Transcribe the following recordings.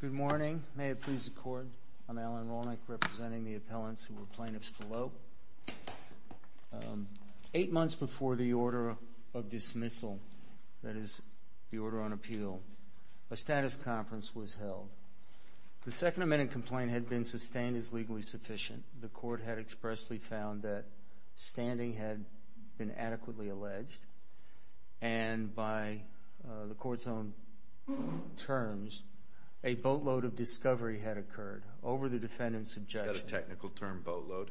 Good morning. May it please the Court, I'm Alan Rolnick, representing the appellants who were plaintiffs below. Eight months before the order of dismissal, that is, the order on appeal, a status conference was held. The second amended complaint had been sustained as legally sufficient. The Court had expressly found that standing had been adequately alleged and by the Court's own terms, a boatload of discovery had occurred over the defendant's objection. You've got a technical term, boatload.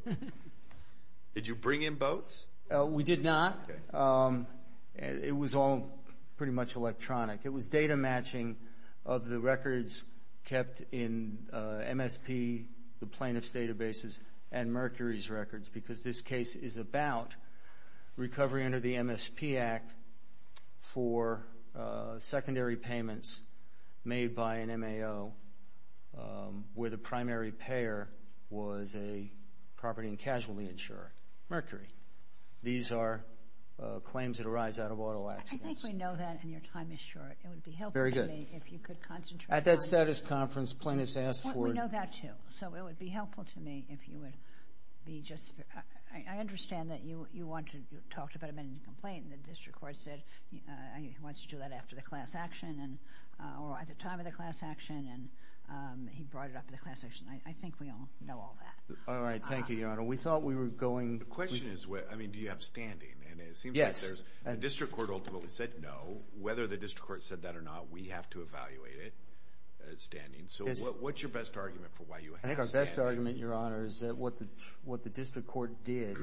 Did you bring in boats? We did not. It was all pretty much electronic. It was data matching of the records kept in MSP, the plaintiff's databases, and Mercury's records because this case is about recovery under the MSP Act for secondary payments made by an MAO where the primary payer was a property and casualty insurer, Mercury. These are claims that arise out of auto accidents. I think we know that and your time is short. It would be helpful to me if you could concentrate. At that status conference, plaintiffs asked for... I understand that you talked about amended complaint and the District Court said he wants to do that after the class action or at the time of the class action and he brought it up at the class action. I think we all know all that. All right. Thank you, Your Honor. We thought we were going... The question is, I mean, do you have standing? Yes. It seems like the District Court ultimately said no. Whether the District Court said that or not, we have to evaluate it, standing. So what's your best argument for why you have standing? I think our best argument, Your Honor, is that what the District Court did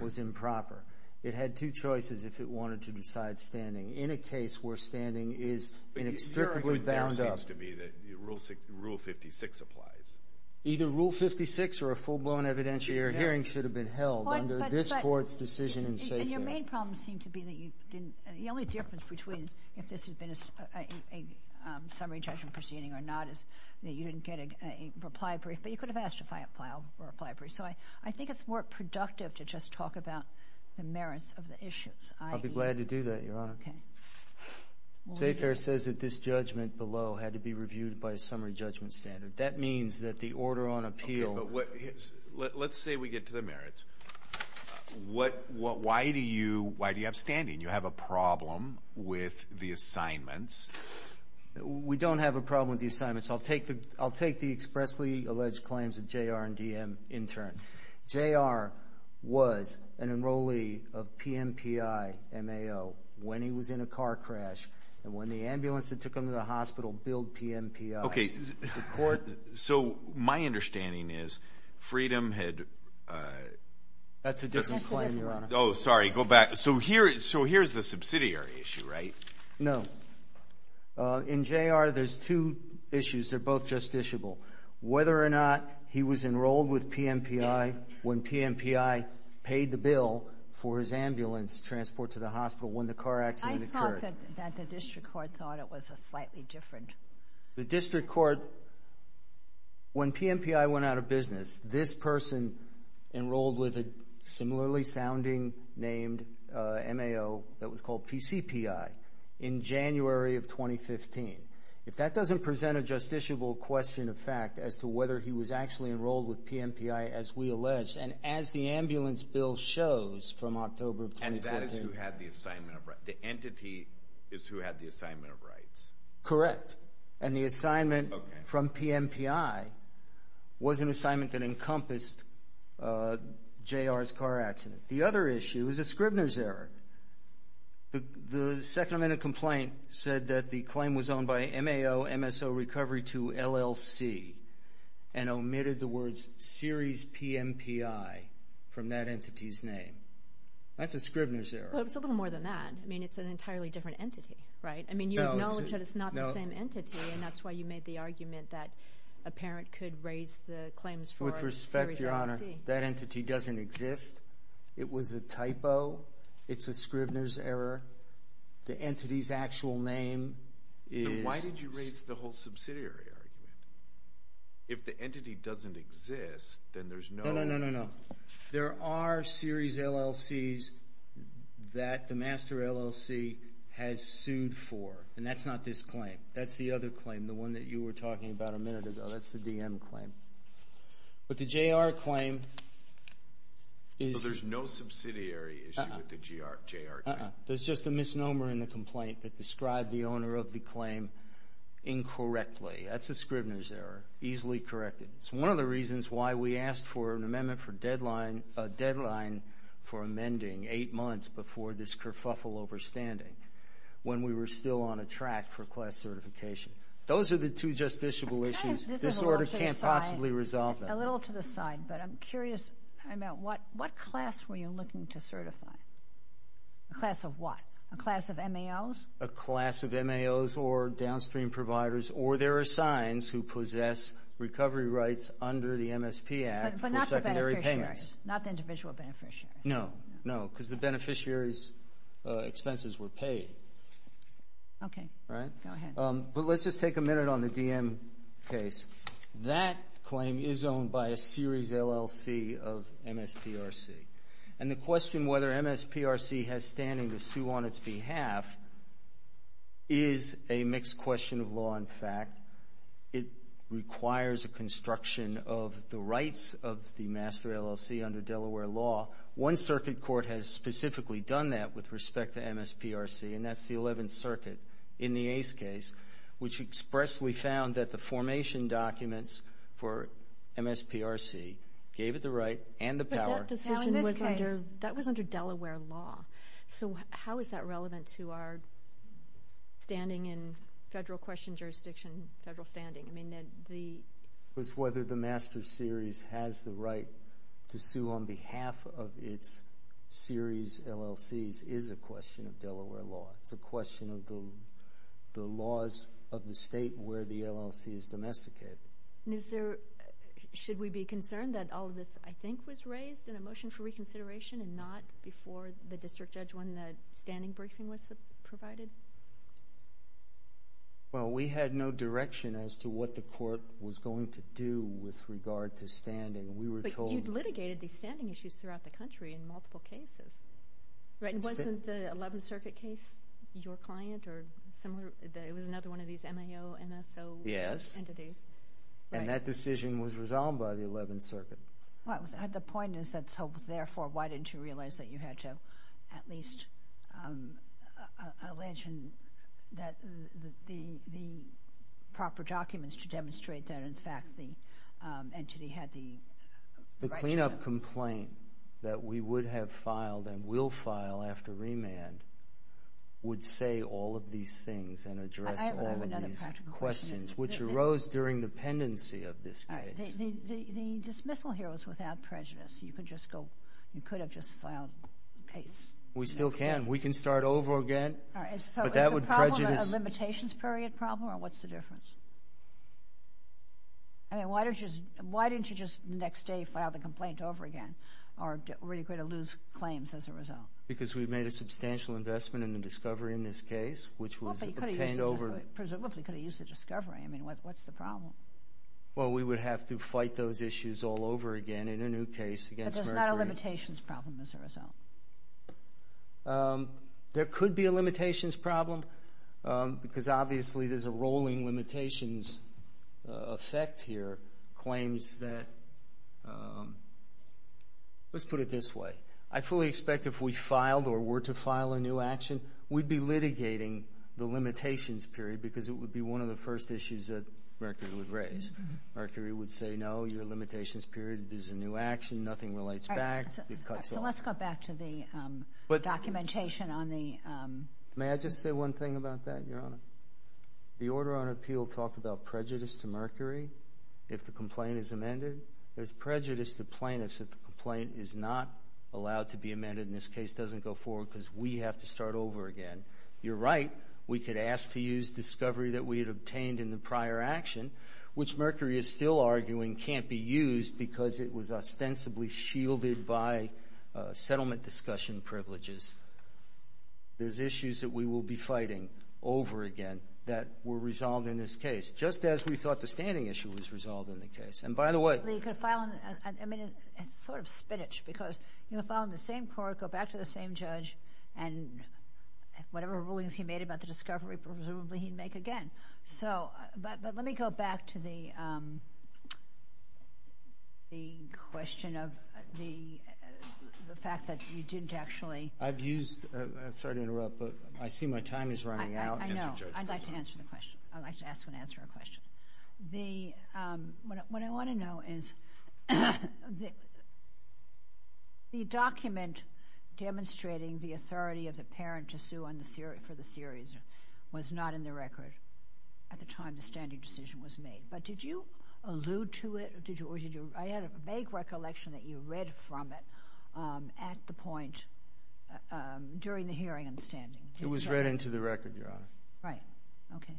was improper. It had two choices if it wanted to decide standing. In a case where standing is inextricably bound up... But your argument there seems to be that Rule 56 applies. Either Rule 56 or a full-blown evidentiary hearing should have been held under this Court's decision in safe hand. And your main problem seemed to be that you didn't... The only difference between if this had been a summary judgment proceeding or not is that you didn't get a reply brief. But you could have asked to file a reply brief. So I think it's more productive to just talk about the merits of the issues, i.e. I'll be glad to do that, Your Honor. Okay. State Fair says that this judgment below had to be reviewed by a summary judgment standard. That means that the order on appeal... Okay, but let's say we get to the merits. Why do you have standing? You have a problem with the assignments. We don't have a problem with the assignments. I'll take the expressly alleged claims of J.R. and D.M. in turn. J.R. was an enrollee of PMPI MAO when he was in a car crash and when the ambulance that took him to the hospital billed PMPI. Okay, so my understanding is Freedom had... That's a different claim, Your Honor. Oh, sorry. Go back. So here's the subsidiary issue, right? No. In J.R., there's two issues. They're both justiciable. Whether or not he was enrolled with PMPI when PMPI paid the bill for his ambulance transport to the hospital when the car accident occurred. I thought that the district court thought it was slightly different. The district court, when PMPI went out of business, this person enrolled with a similarly sounding named MAO that was called PCPI in January of 2015. If that doesn't present a justiciable question of fact as to whether he was actually enrolled with PMPI as we allege, and as the ambulance bill shows from October of 2014... And that is who had the assignment of rights. The entity is who had the assignment of rights. Correct. And the assignment from PMPI was an assignment that encompassed J.R.'s car accident. The other issue is a Scrivener's Error. The second amendment complaint said that the claim was owned by MAO MSO Recovery to LLC and omitted the words Series PMPI from that entity's name. That's a Scrivener's Error. Well, it's a little more than that. I mean, it's an entirely different entity, right? I mean, you acknowledge that it's not the same entity, and that's why you made the argument that a parent could raise the claims for a Series LLC. With respect, Your Honor, that entity doesn't exist. It was a typo. It's a Scrivener's Error. The entity's actual name is... Then why did you raise the whole subsidiary argument? If the entity doesn't exist, then there's no... And that's not this claim. That's the other claim, the one that you were talking about a minute ago. That's the DM claim. But the J.R. claim is... So there's no subsidiary issue with the J.R. claim? Uh-uh. There's just a misnomer in the complaint that described the owner of the claim incorrectly. That's a Scrivener's Error, easily corrected. It's one of the reasons why we asked for an amendment for deadline for amending eight months before this kerfuffle overstanding, when we were still on a track for class certification. Those are the two justiciable issues. This order can't possibly resolve them. A little to the side, but I'm curious. What class were you looking to certify? A class of what? A class of MAOs? A class of MAOs or downstream providers, or there are signs who possess recovery rights under the MSP Act for secondary payments. But not the beneficiary, not the individual beneficiary. No, no, because the beneficiary's expenses were paid. Okay. Go ahead. But let's just take a minute on the DM case. That claim is owned by a series LLC of MSPRC. And the question whether MSPRC has standing to sue on its behalf is a mixed question of law and fact. It requires a construction of the rights of the master LLC under Delaware law. One circuit court has specifically done that with respect to MSPRC, and that's the 11th Circuit in the Ace case, which expressly found that the formation documents for MSPRC gave it the right and the power. But that decision was under Delaware law. So how is that relevant to our standing in federal question jurisdiction, federal standing? I mean, Ned, the ---- It's whether the master series has the right to sue on behalf of its series LLCs is a question of Delaware law. It's a question of the laws of the state where the LLC is domesticated. And is there ---- should we be concerned that all of this, I think, was raised in a motion for reconsideration and not before the district judge when the standing briefing was provided? Well, we had no direction as to what the court was going to do with regard to standing. We were told ---- But you litigated these standing issues throughout the country in multiple cases, right? And wasn't the 11th Circuit case your client or similar? It was another one of these MAO, MSO entities. Yes. And that decision was resolved by the 11th Circuit. Well, the point is that so therefore why didn't you realize that you had to at least allege that the proper documents to demonstrate that, in fact, the entity had the right to ---- The cleanup complaint that we would have filed and will file after remand would say all of these things and address all of these questions, which arose during the pendency of this case. The dismissal here was without prejudice. You could just go ---- You could have just filed the case. We still can. We can start over again. All right. But that would prejudice ---- So is the problem a limitations period problem or what's the difference? I mean, why didn't you just the next day file the complaint over again? Or were you going to lose claims as a result? Because we made a substantial investment in the discovery in this case, which was obtained over ---- Well, but you could have used the discovery. I mean, what's the problem? Well, we would have to fight those issues all over again in a new case against Mercury. So it's not a limitations problem as a result? There could be a limitations problem because obviously there's a rolling limitations effect here, claims that ---- Let's put it this way. I fully expect if we filed or were to file a new action, we'd be litigating the limitations period because it would be one of the first issues that Mercury would raise. Mercury would say, no, your limitations period is a new action. Nothing relates back. It cuts off. So let's go back to the documentation on the ---- May I just say one thing about that, Your Honor? The order on appeal talked about prejudice to Mercury if the complaint is amended. There's prejudice to plaintiffs if the complaint is not allowed to be amended and this case doesn't go forward because we have to start over again. You're right. We could ask to use discovery that we had obtained in the prior action, which Mercury is still arguing can't be used because it was ostensibly shielded by settlement discussion privileges. There's issues that we will be fighting over again that were resolved in this case, just as we thought the standing issue was resolved in the case. And by the way ---- Well, you could file on ---- I mean, it's sort of spinach because you file on the same court, go back to the same judge, and whatever rulings he made about the discovery presumably he'd make again. But let me go back to the question of the fact that you didn't actually ---- I've used ---- I'm sorry to interrupt, but I see my time is running out. I know. I'd like to answer the question. I'd like to ask and answer a question. What I want to know is the document demonstrating the authority of the parent to sue for the series was not in the record at the time the standing decision was made. But did you allude to it or did you ---- I had a vague recollection that you read from it at the point during the hearing and standing. It was read into the record, Your Honor. Right. Okay.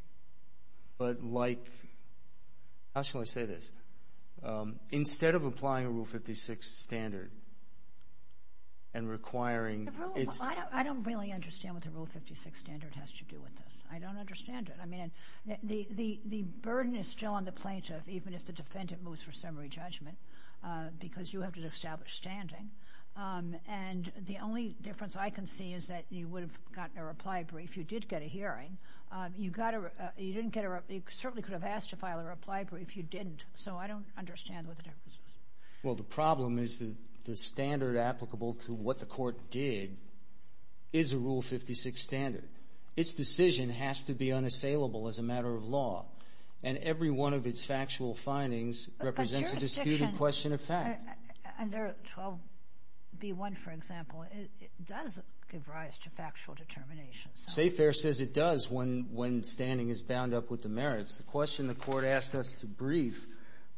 But like ---- how shall I say this? Instead of applying a Rule 56 standard and requiring ---- I don't really understand what the Rule 56 standard has to do with this. I don't understand it. I mean, the burden is still on the plaintiff even if the defendant moves for summary judgment because you have to establish standing. And the only difference I can see is that you would have gotten a reply brief. You did get a hearing. You got a ---- you didn't get a reply. You certainly could have asked to file a reply brief. You didn't. So I don't understand what the difference is. Well, the problem is that the standard applicable to what the court did is a Rule 56 standard. Its decision has to be unassailable as a matter of law. And every one of its factual findings represents a disputed question of fact. Under 12B1, for example, it does give rise to factual determinations. State fair says it does when standing is bound up with the merits. The question the Court asked us to brief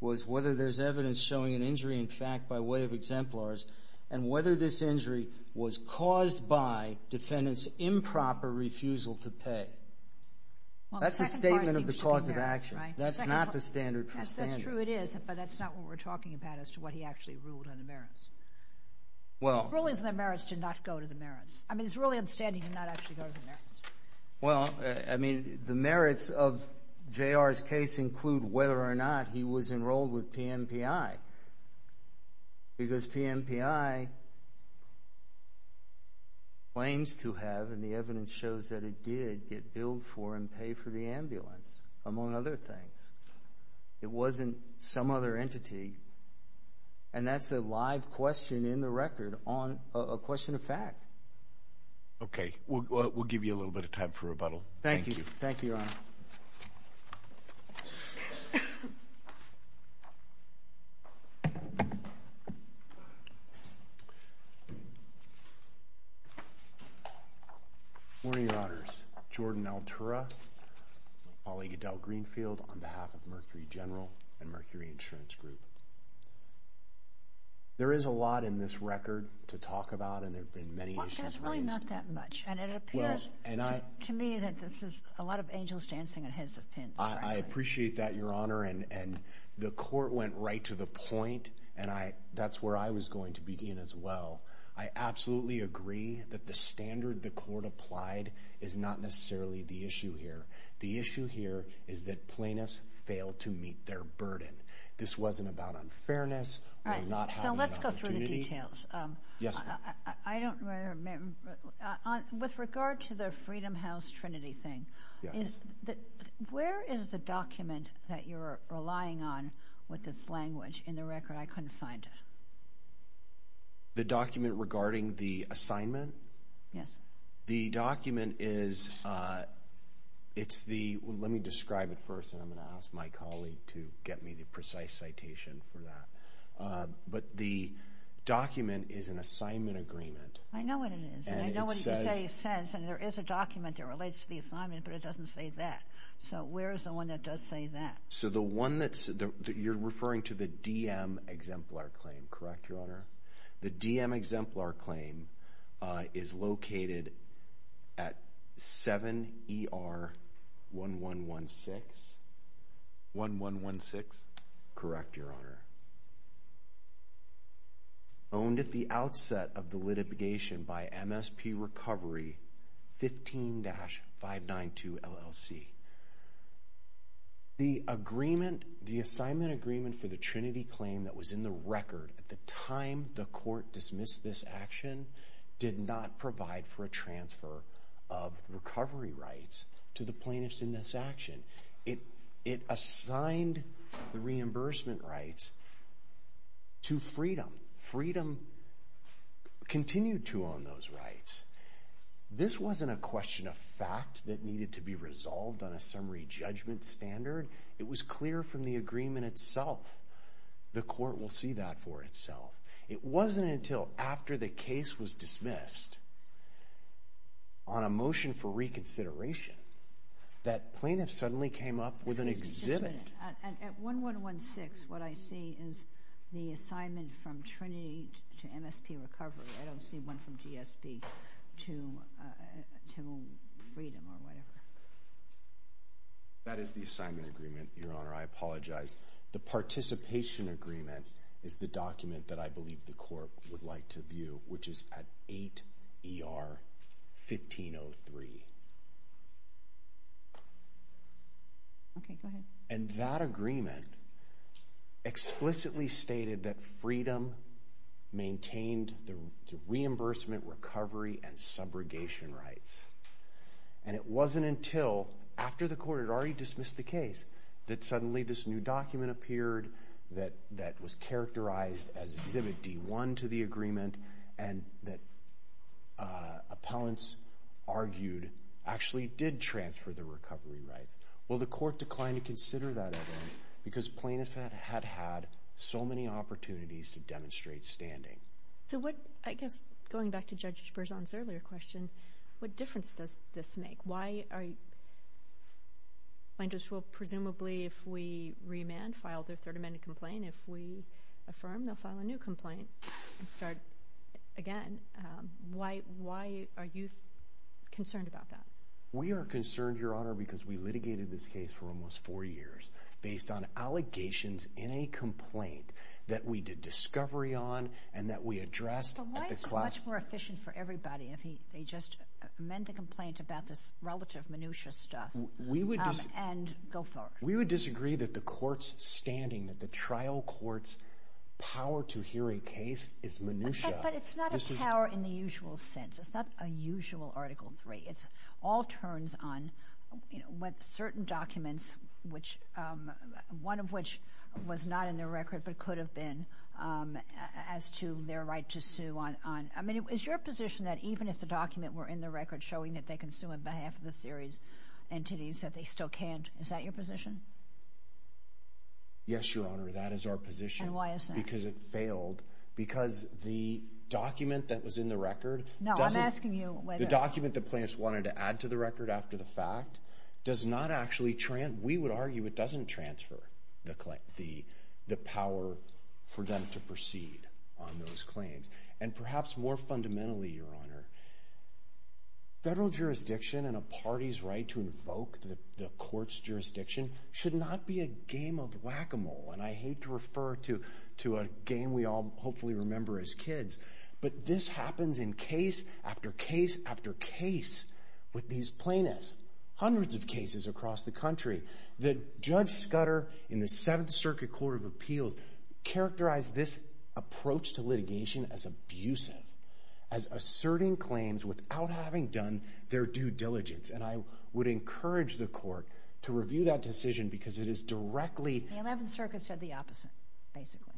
was whether there's evidence showing an injury in fact by way of exemplars and whether this injury was caused by defendant's improper refusal to pay. That's a statement of the cause of action. That's not the standard for standing. That's true, it is, but that's not what we're talking about as to what he actually ruled on the merits. Well ---- The rulings on the merits did not go to the merits. I mean, it's really understanding he did not actually go to the merits. Well, I mean, the merits of J.R.'s case include whether or not he was enrolled with PMPI because PMPI claims to have, and the evidence shows that it did, get billed for and pay for the ambulance, among other things. It wasn't some other entity, and that's a live question in the record on a question of fact. Okay. We'll give you a little bit of time for rebuttal. Thank you. Thank you, Your Honor. Good morning, Your Honors. Jordan Altura, Paul E. Goodell-Greenfield on behalf of Mercury General and Mercury Insurance Group. There is a lot in this record to talk about, and there have been many issues raised. Well, there's really not that much, and it appears to me that this is a lot of angels dancing on heads of pins. I appreciate that, Your Honor, and the court went right to the point, and that's where I was going to begin as well. I absolutely agree that the standard the court applied is not necessarily the issue here. The issue here is that plaintiffs failed to meet their burden. This wasn't about unfairness or not having an opportunity. All right. So let's go through the details. Yes, ma'am. I don't remember. With regard to the Freedom House Trinity thing, where is the document that you're relying on with this language in the record? I couldn't find it. The document regarding the assignment? Yes. The document is the... Let me describe it first, and I'm going to ask my colleague to get me the precise citation for that. But the document is an assignment agreement. I know what it is. And it says... I know what it says, and there is a document that relates to the assignment, but it doesn't say that. So where is the one that does say that? So the one that's... You're referring to the DM exemplar claim, correct, Your Honor? The DM exemplar claim is located at 7ER1116. 1116? Correct, Your Honor. Owned at the outset of the litigation by MSP Recovery 15-592 LLC. The assignment agreement for the Trinity claim that was in the record at the time the court dismissed this action did not provide for a transfer of recovery rights to the plaintiffs in this action. It assigned the reimbursement rights to Freedom. Freedom continued to own those rights. This wasn't a question of fact that needed to be resolved on a summary judgment standard. It was clear from the agreement itself. The court will see that for itself. It wasn't until after the case was dismissed on a motion for reconsideration that plaintiffs suddenly came up with an exhibit. At 1116, what I see is the assignment from Trinity to MSP Recovery. I don't see one from GSP to Freedom or whatever. That is the assignment agreement, Your Honor. I apologize. The participation agreement is the document that I believe the court would like to view, which is at 8ER1503. Okay, go ahead. That agreement explicitly stated that Freedom maintained the reimbursement, recovery, and subrogation rights. It wasn't until after the court had already dismissed the case that suddenly this new document appeared that was characterized as exhibit D1 to the agreement and that appellants argued actually did transfer the recovery rights. Well, the court declined to consider that evidence because Plaintiffs had had so many opportunities to demonstrate standing. I guess going back to Judge Berzon's earlier question, what difference does this make? Plaintiffs will presumably, if we remand, file their Third Amendment complaint. If we affirm, they'll file a new complaint and start again. Why are you concerned about that? We are concerned, Your Honor, because we litigated this case for almost four years based on allegations in a complaint that we did discovery on and that we addressed at the class. But why is it much more efficient for everybody if they just amend the complaint about this relative minutia stuff and go forward? We would disagree that the court's standing, that the trial court's power to hear a case is minutia. But it's not a power in the usual sense. It's not a usual Article III. It all turns on certain documents, one of which was not in the record but could have been, as to their right to sue. I mean, is your position that even if the document were in the record showing that they can sue on behalf of the series entities, that they still can't? Is that your position? Yes, Your Honor. That is our position. And why is that? Because it failed. Because the document that was in the record doesn't... No, I'm asking you whether... The document that plaintiffs wanted to add to the record after the fact does not actually... We would argue it doesn't transfer the power for them to proceed on those claims. And perhaps more fundamentally, Your Honor, federal jurisdiction and a party's right to invoke the court's jurisdiction should not be a game of whack-a-mole. And I hate to refer to a game we all hopefully remember as kids. But this happens in case after case after case with these plaintiffs. Hundreds of cases across the country. Judge Scudder in the Seventh Circuit Court of Appeals characterized this approach to litigation as abusive, as asserting claims without having done their due diligence. And I would encourage the court to review that decision because it is directly... The Eleventh Circuit said the opposite, basically.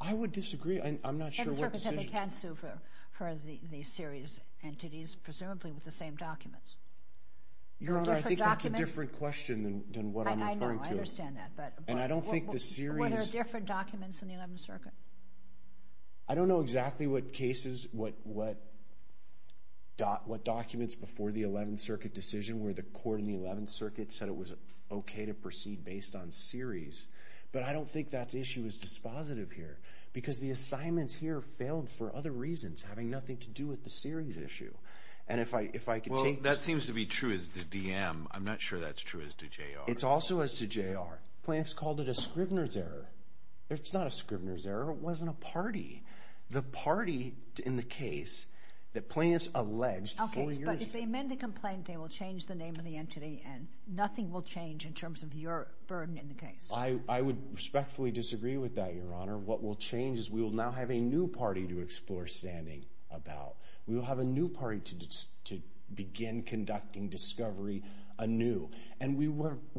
I would disagree. I'm not sure what decision... And the circuit said they can sue for the series entities, presumably with the same documents. Your Honor, I think that's a different question than what I'm referring to. I know. I understand that. And I don't think the series... What are different documents in the Eleventh Circuit? I don't know exactly what cases, what documents before the Eleventh Circuit decision where the court in the Eleventh Circuit said it was okay to proceed based on series. But I don't think that issue is dispositive here. Because the assignments here failed for other reasons having nothing to do with the series issue. And if I could take... Well, that seems to be true as the DM. I'm not sure that's true as to JR. It's also as to JR. Plaintiffs called it a Scrivener's Error. It's not a Scrivener's Error. It wasn't a party. The party in the case that plaintiffs alleged... Okay, but if they amend the complaint, they will change the name of the entity and nothing will change in terms of your burden in the case. I would respectfully disagree with that, Your Honor. What will change is we will now have a new party to explore standing about. We will have a new party to begin conducting discovery anew. And we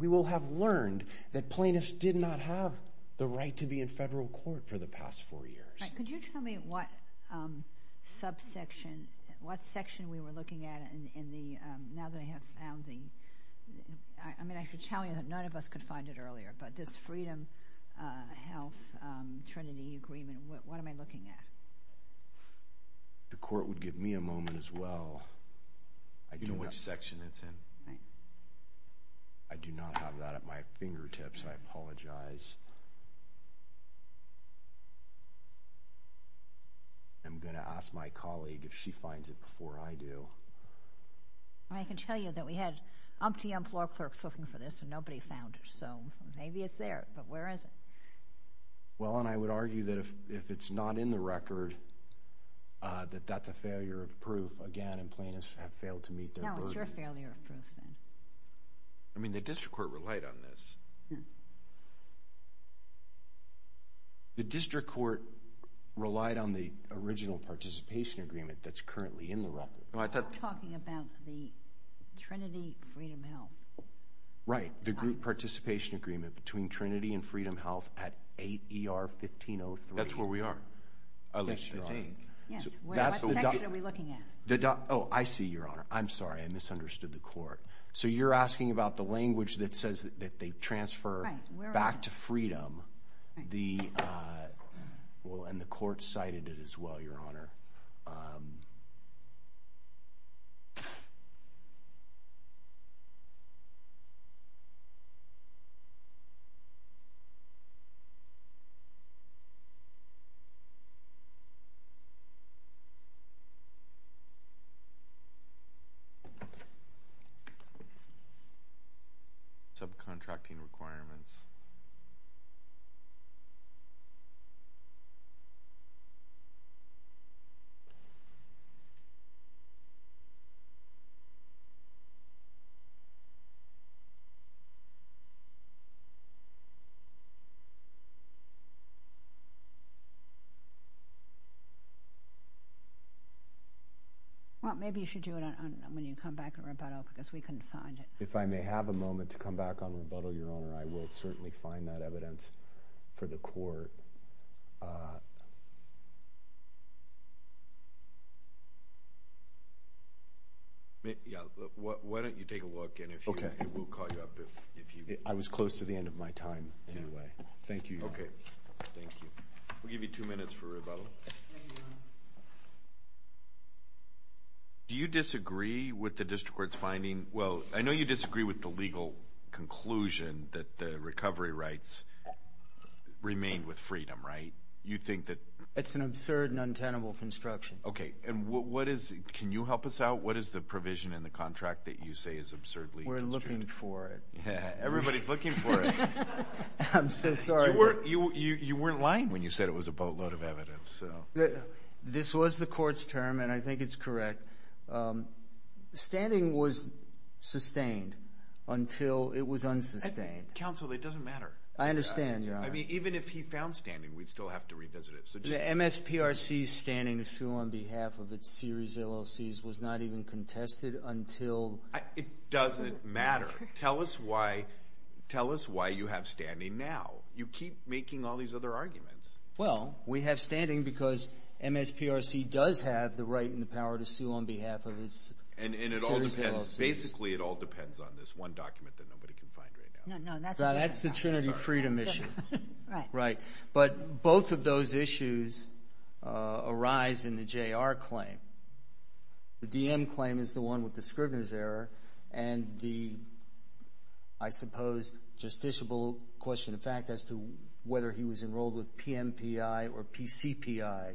will have learned that plaintiffs did not have the right to be in federal court for the past four years. Could you tell me what subsection, what section we were looking at in the... Now that I have found the... I mean, I should tell you that none of us could find it earlier. But this Freedom Health Trinity Agreement, what am I looking at? The court would give me a moment as well. You know which section it's in. I do not have that at my fingertips. I apologize. I'm going to ask my colleague if she finds it before I do. I can tell you that we had umpteen floor clerks looking for this and nobody found it. So maybe it's there, but where is it? Well, and I would argue that if it's not in the record, that that's a failure of proof. Again, and plaintiffs have failed to meet their burden. No, it's your failure of proof then. I mean, the district court relied on this. The district court relied on the original participation agreement that's currently in the record. You're talking about the Trinity Freedom Health. Right. The group participation agreement between Trinity and Freedom Health at 8 ER 1503. That's where we are. Yes, Your Honor. Yes. What section are we looking at? Oh, I see, Your Honor. I'm sorry. I misunderstood the court. So you're asking about the language that says that they transfer back to Freedom. And the court cited it as well, Your Honor. Subcontracting requirements. Well, maybe you should do it when you come back and rebuttal because we couldn't find it. If I may have a moment to come back on rebuttal, Your Honor, I will certainly find that evidence for the court. Yeah. Why don't you take a look and we'll call you up if you want. I was close to the end of my time anyway. Thank you, Your Honor. Okay. Thank you. We'll give you two minutes for rebuttal. Do you disagree with the district court's finding? Well, I know you disagree with the legal conclusion that the recovery rights remain with Freedom, right? You think that – It's an absurd and untenable construction. Okay. And what is – can you help us out? What is the provision in the contract that you say is absurdly constructed? We're looking for it. Everybody's looking for it. I'm so sorry. You weren't lying when you said it was a boatload of evidence. This was the court's term, and I think it's correct. Standing was sustained until it was unsustained. Counsel, it doesn't matter. I understand, Your Honor. I mean, even if he found standing, we'd still have to revisit it. The MSPRC's standing issue on behalf of its series LLCs was not even contested until – It doesn't matter. Tell us why you have standing now. You keep making all these other arguments. Well, we have standing because MSPRC does have the right and the power to sue on behalf of its series LLCs. And it all depends. Basically, it all depends on this one document that nobody can find right now. No, no. That's the Trinity Freedom issue. Right. Right. But both of those issues arise in the JR claim. The DM claim is the one with the Scrivener's error and the, I suppose, justiciable question of fact as to whether he was enrolled with PMPI or PCPI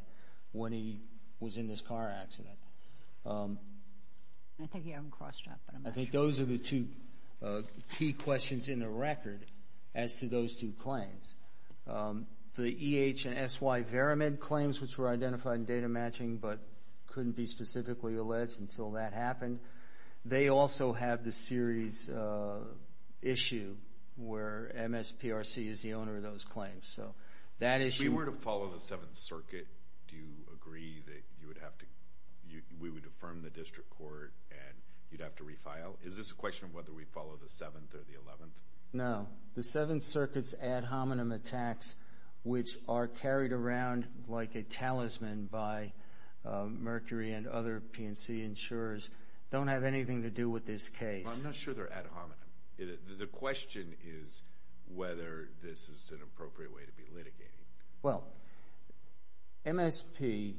when he was in this car accident. I think you haven't crossed that, but I'm not sure. I think those are the two key questions in the record as to those two claims. The EH and SY Veramed claims, which were identified in data matching but couldn't be specifically alleged until that happened, they also have the series issue where MSPRC is the owner of those claims. If we were to follow the Seventh Circuit, do you agree that we would affirm the district court and you'd have to refile? Is this a question of whether we follow the Seventh or the Eleventh? No. The Seventh Circuit's ad hominem attacks, which are carried around like a talisman by Mercury and other PNC insurers, don't have anything to do with this case. I'm not sure they're ad hominem. The question is whether this is an appropriate way to be litigating. Well, MSPRC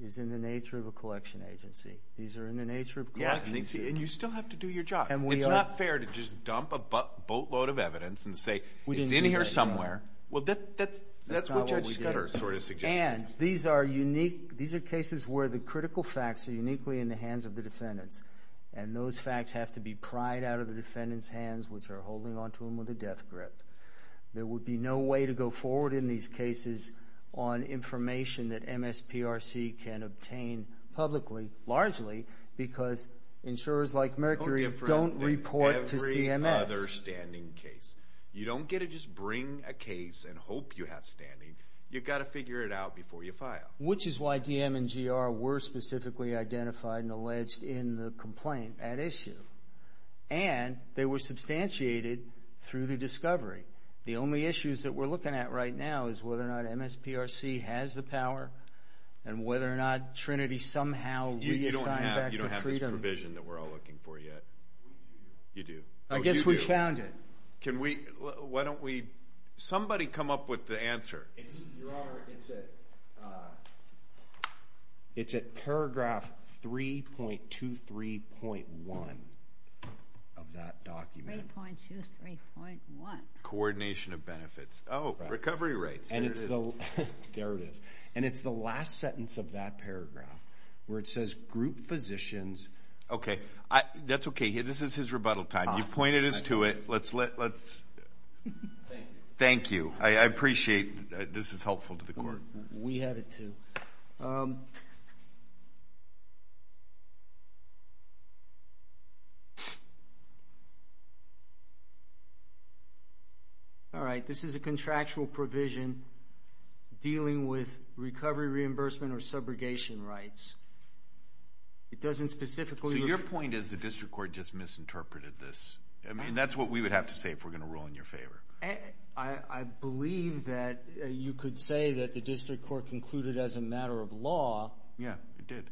is in the nature of a collection agency. These are in the nature of collection agencies. And you still have to do your job. It's not fair to just dump a boatload of evidence and say it's in here somewhere. Well, that's what Judge Scudder sort of suggested. And these are cases where the critical facts are uniquely in the hands of the defendants, and those facts have to be pried out of the defendants' hands, which are holding onto them with a death grip. There would be no way to go forward in these cases on information that MSPRC can obtain publicly, largely because insurers like Mercury don't report to CMS. No different than every other standing case. You don't get to just bring a case and hope you have standing. You've got to figure it out before you file. Which is why DM and GR were specifically identified and alleged in the complaint at issue. And they were substantiated through the discovery. The only issues that we're looking at right now is whether or not MSPRC has the power and whether or not Trinity somehow reassigned back to Freedom. You don't have this provision that we're all looking for yet. We do. You do. I guess we found it. Can we, why don't we, somebody come up with the answer. Your Honor, it's at paragraph 3.23.1 of that document. 3.23.1. Coordination of benefits. Oh, recovery rates. There it is. There it is. And it's the last sentence of that paragraph where it says group physicians. Okay. That's okay. This is his rebuttal time. You pointed us to it. Thank you. Thank you. I appreciate. This is helpful to the court. We had it too. All right. This is a contractual provision dealing with recovery reimbursement or subrogation rights. It doesn't specifically. So your point is the district court just misinterpreted this. I mean, that's what we would have to say if we're going to rule in your favor. I believe that you could say that the district court concluded as a matter of law. Yeah, it did.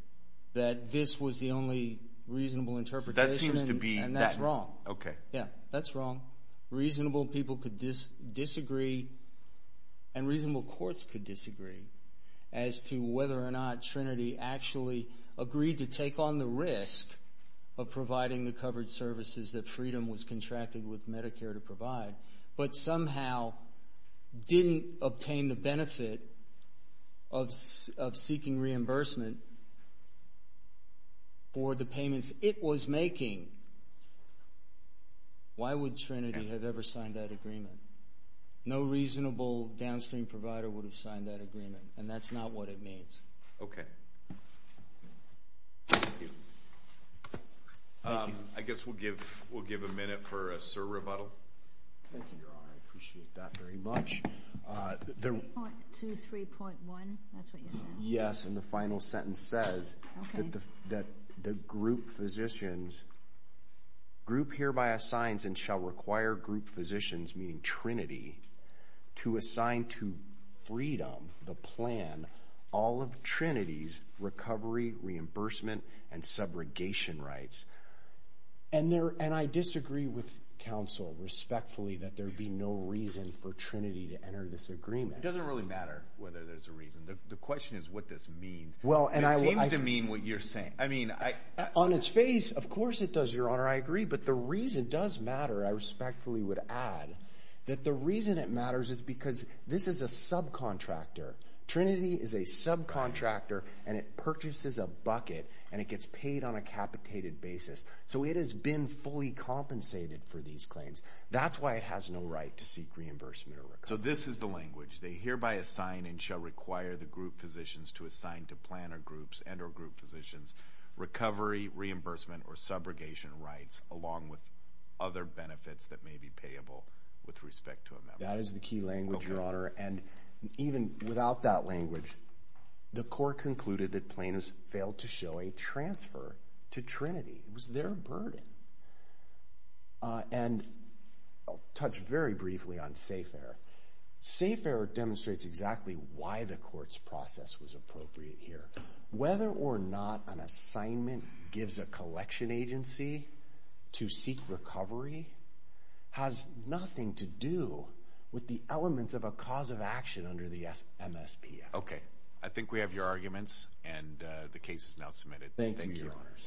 That this was the only reasonable interpretation. That seems to be. And that's wrong. Okay. Yeah, that's wrong. Reasonable people could disagree and reasonable courts could disagree as to whether or not Trinity actually agreed to take on the risk of providing the covered services that Freedom was contracted with Medicare to provide but somehow didn't obtain the benefit of seeking reimbursement for the payments it was making. Why would Trinity have ever signed that agreement? No reasonable downstream provider would have signed that agreement, and that's not what it means. Okay. Thank you. Thank you. I guess we'll give a minute for a surrebuttal. Thank you, Your Honor. I appreciate that very much. 3.23.1, that's what you said. Yes, and the final sentence says that the group physicians, group hereby assigns and shall require group physicians, meaning Trinity, to assign to Freedom the plan all of Trinity's recovery, reimbursement, and subrogation rights. And I disagree with counsel respectfully that there be no reason for Trinity to enter this agreement. It doesn't really matter whether there's a reason. The question is what this means. It seems to mean what you're saying. On its face, of course it does, Your Honor. I agree. But the reason does matter, I respectfully would add, that the reason it matters is because this is a subcontractor. Trinity is a subcontractor, and it purchases a bucket, and it gets paid on a capitated basis. So it has been fully compensated for these claims. That's why it has no right to seek reimbursement or recovery. So this is the language. They hereby assign and shall require the group physicians to assign to planner groups and or group physicians recovery, reimbursement, or subrogation rights along with other benefits that may be payable with respect to a member. That is the key language, Your Honor. And even without that language, the court concluded that planners failed to show a transfer to Trinity. It was their burden. And I'll touch very briefly on SAFARE. SAFARE demonstrates exactly why the court's process was appropriate here. Whether or not an assignment gives a collection agency to seek recovery has nothing to do with the elements of a cause of action under the MSPS. Okay. I think we have your arguments, and the case is now submitted. Thank you, Your Honors.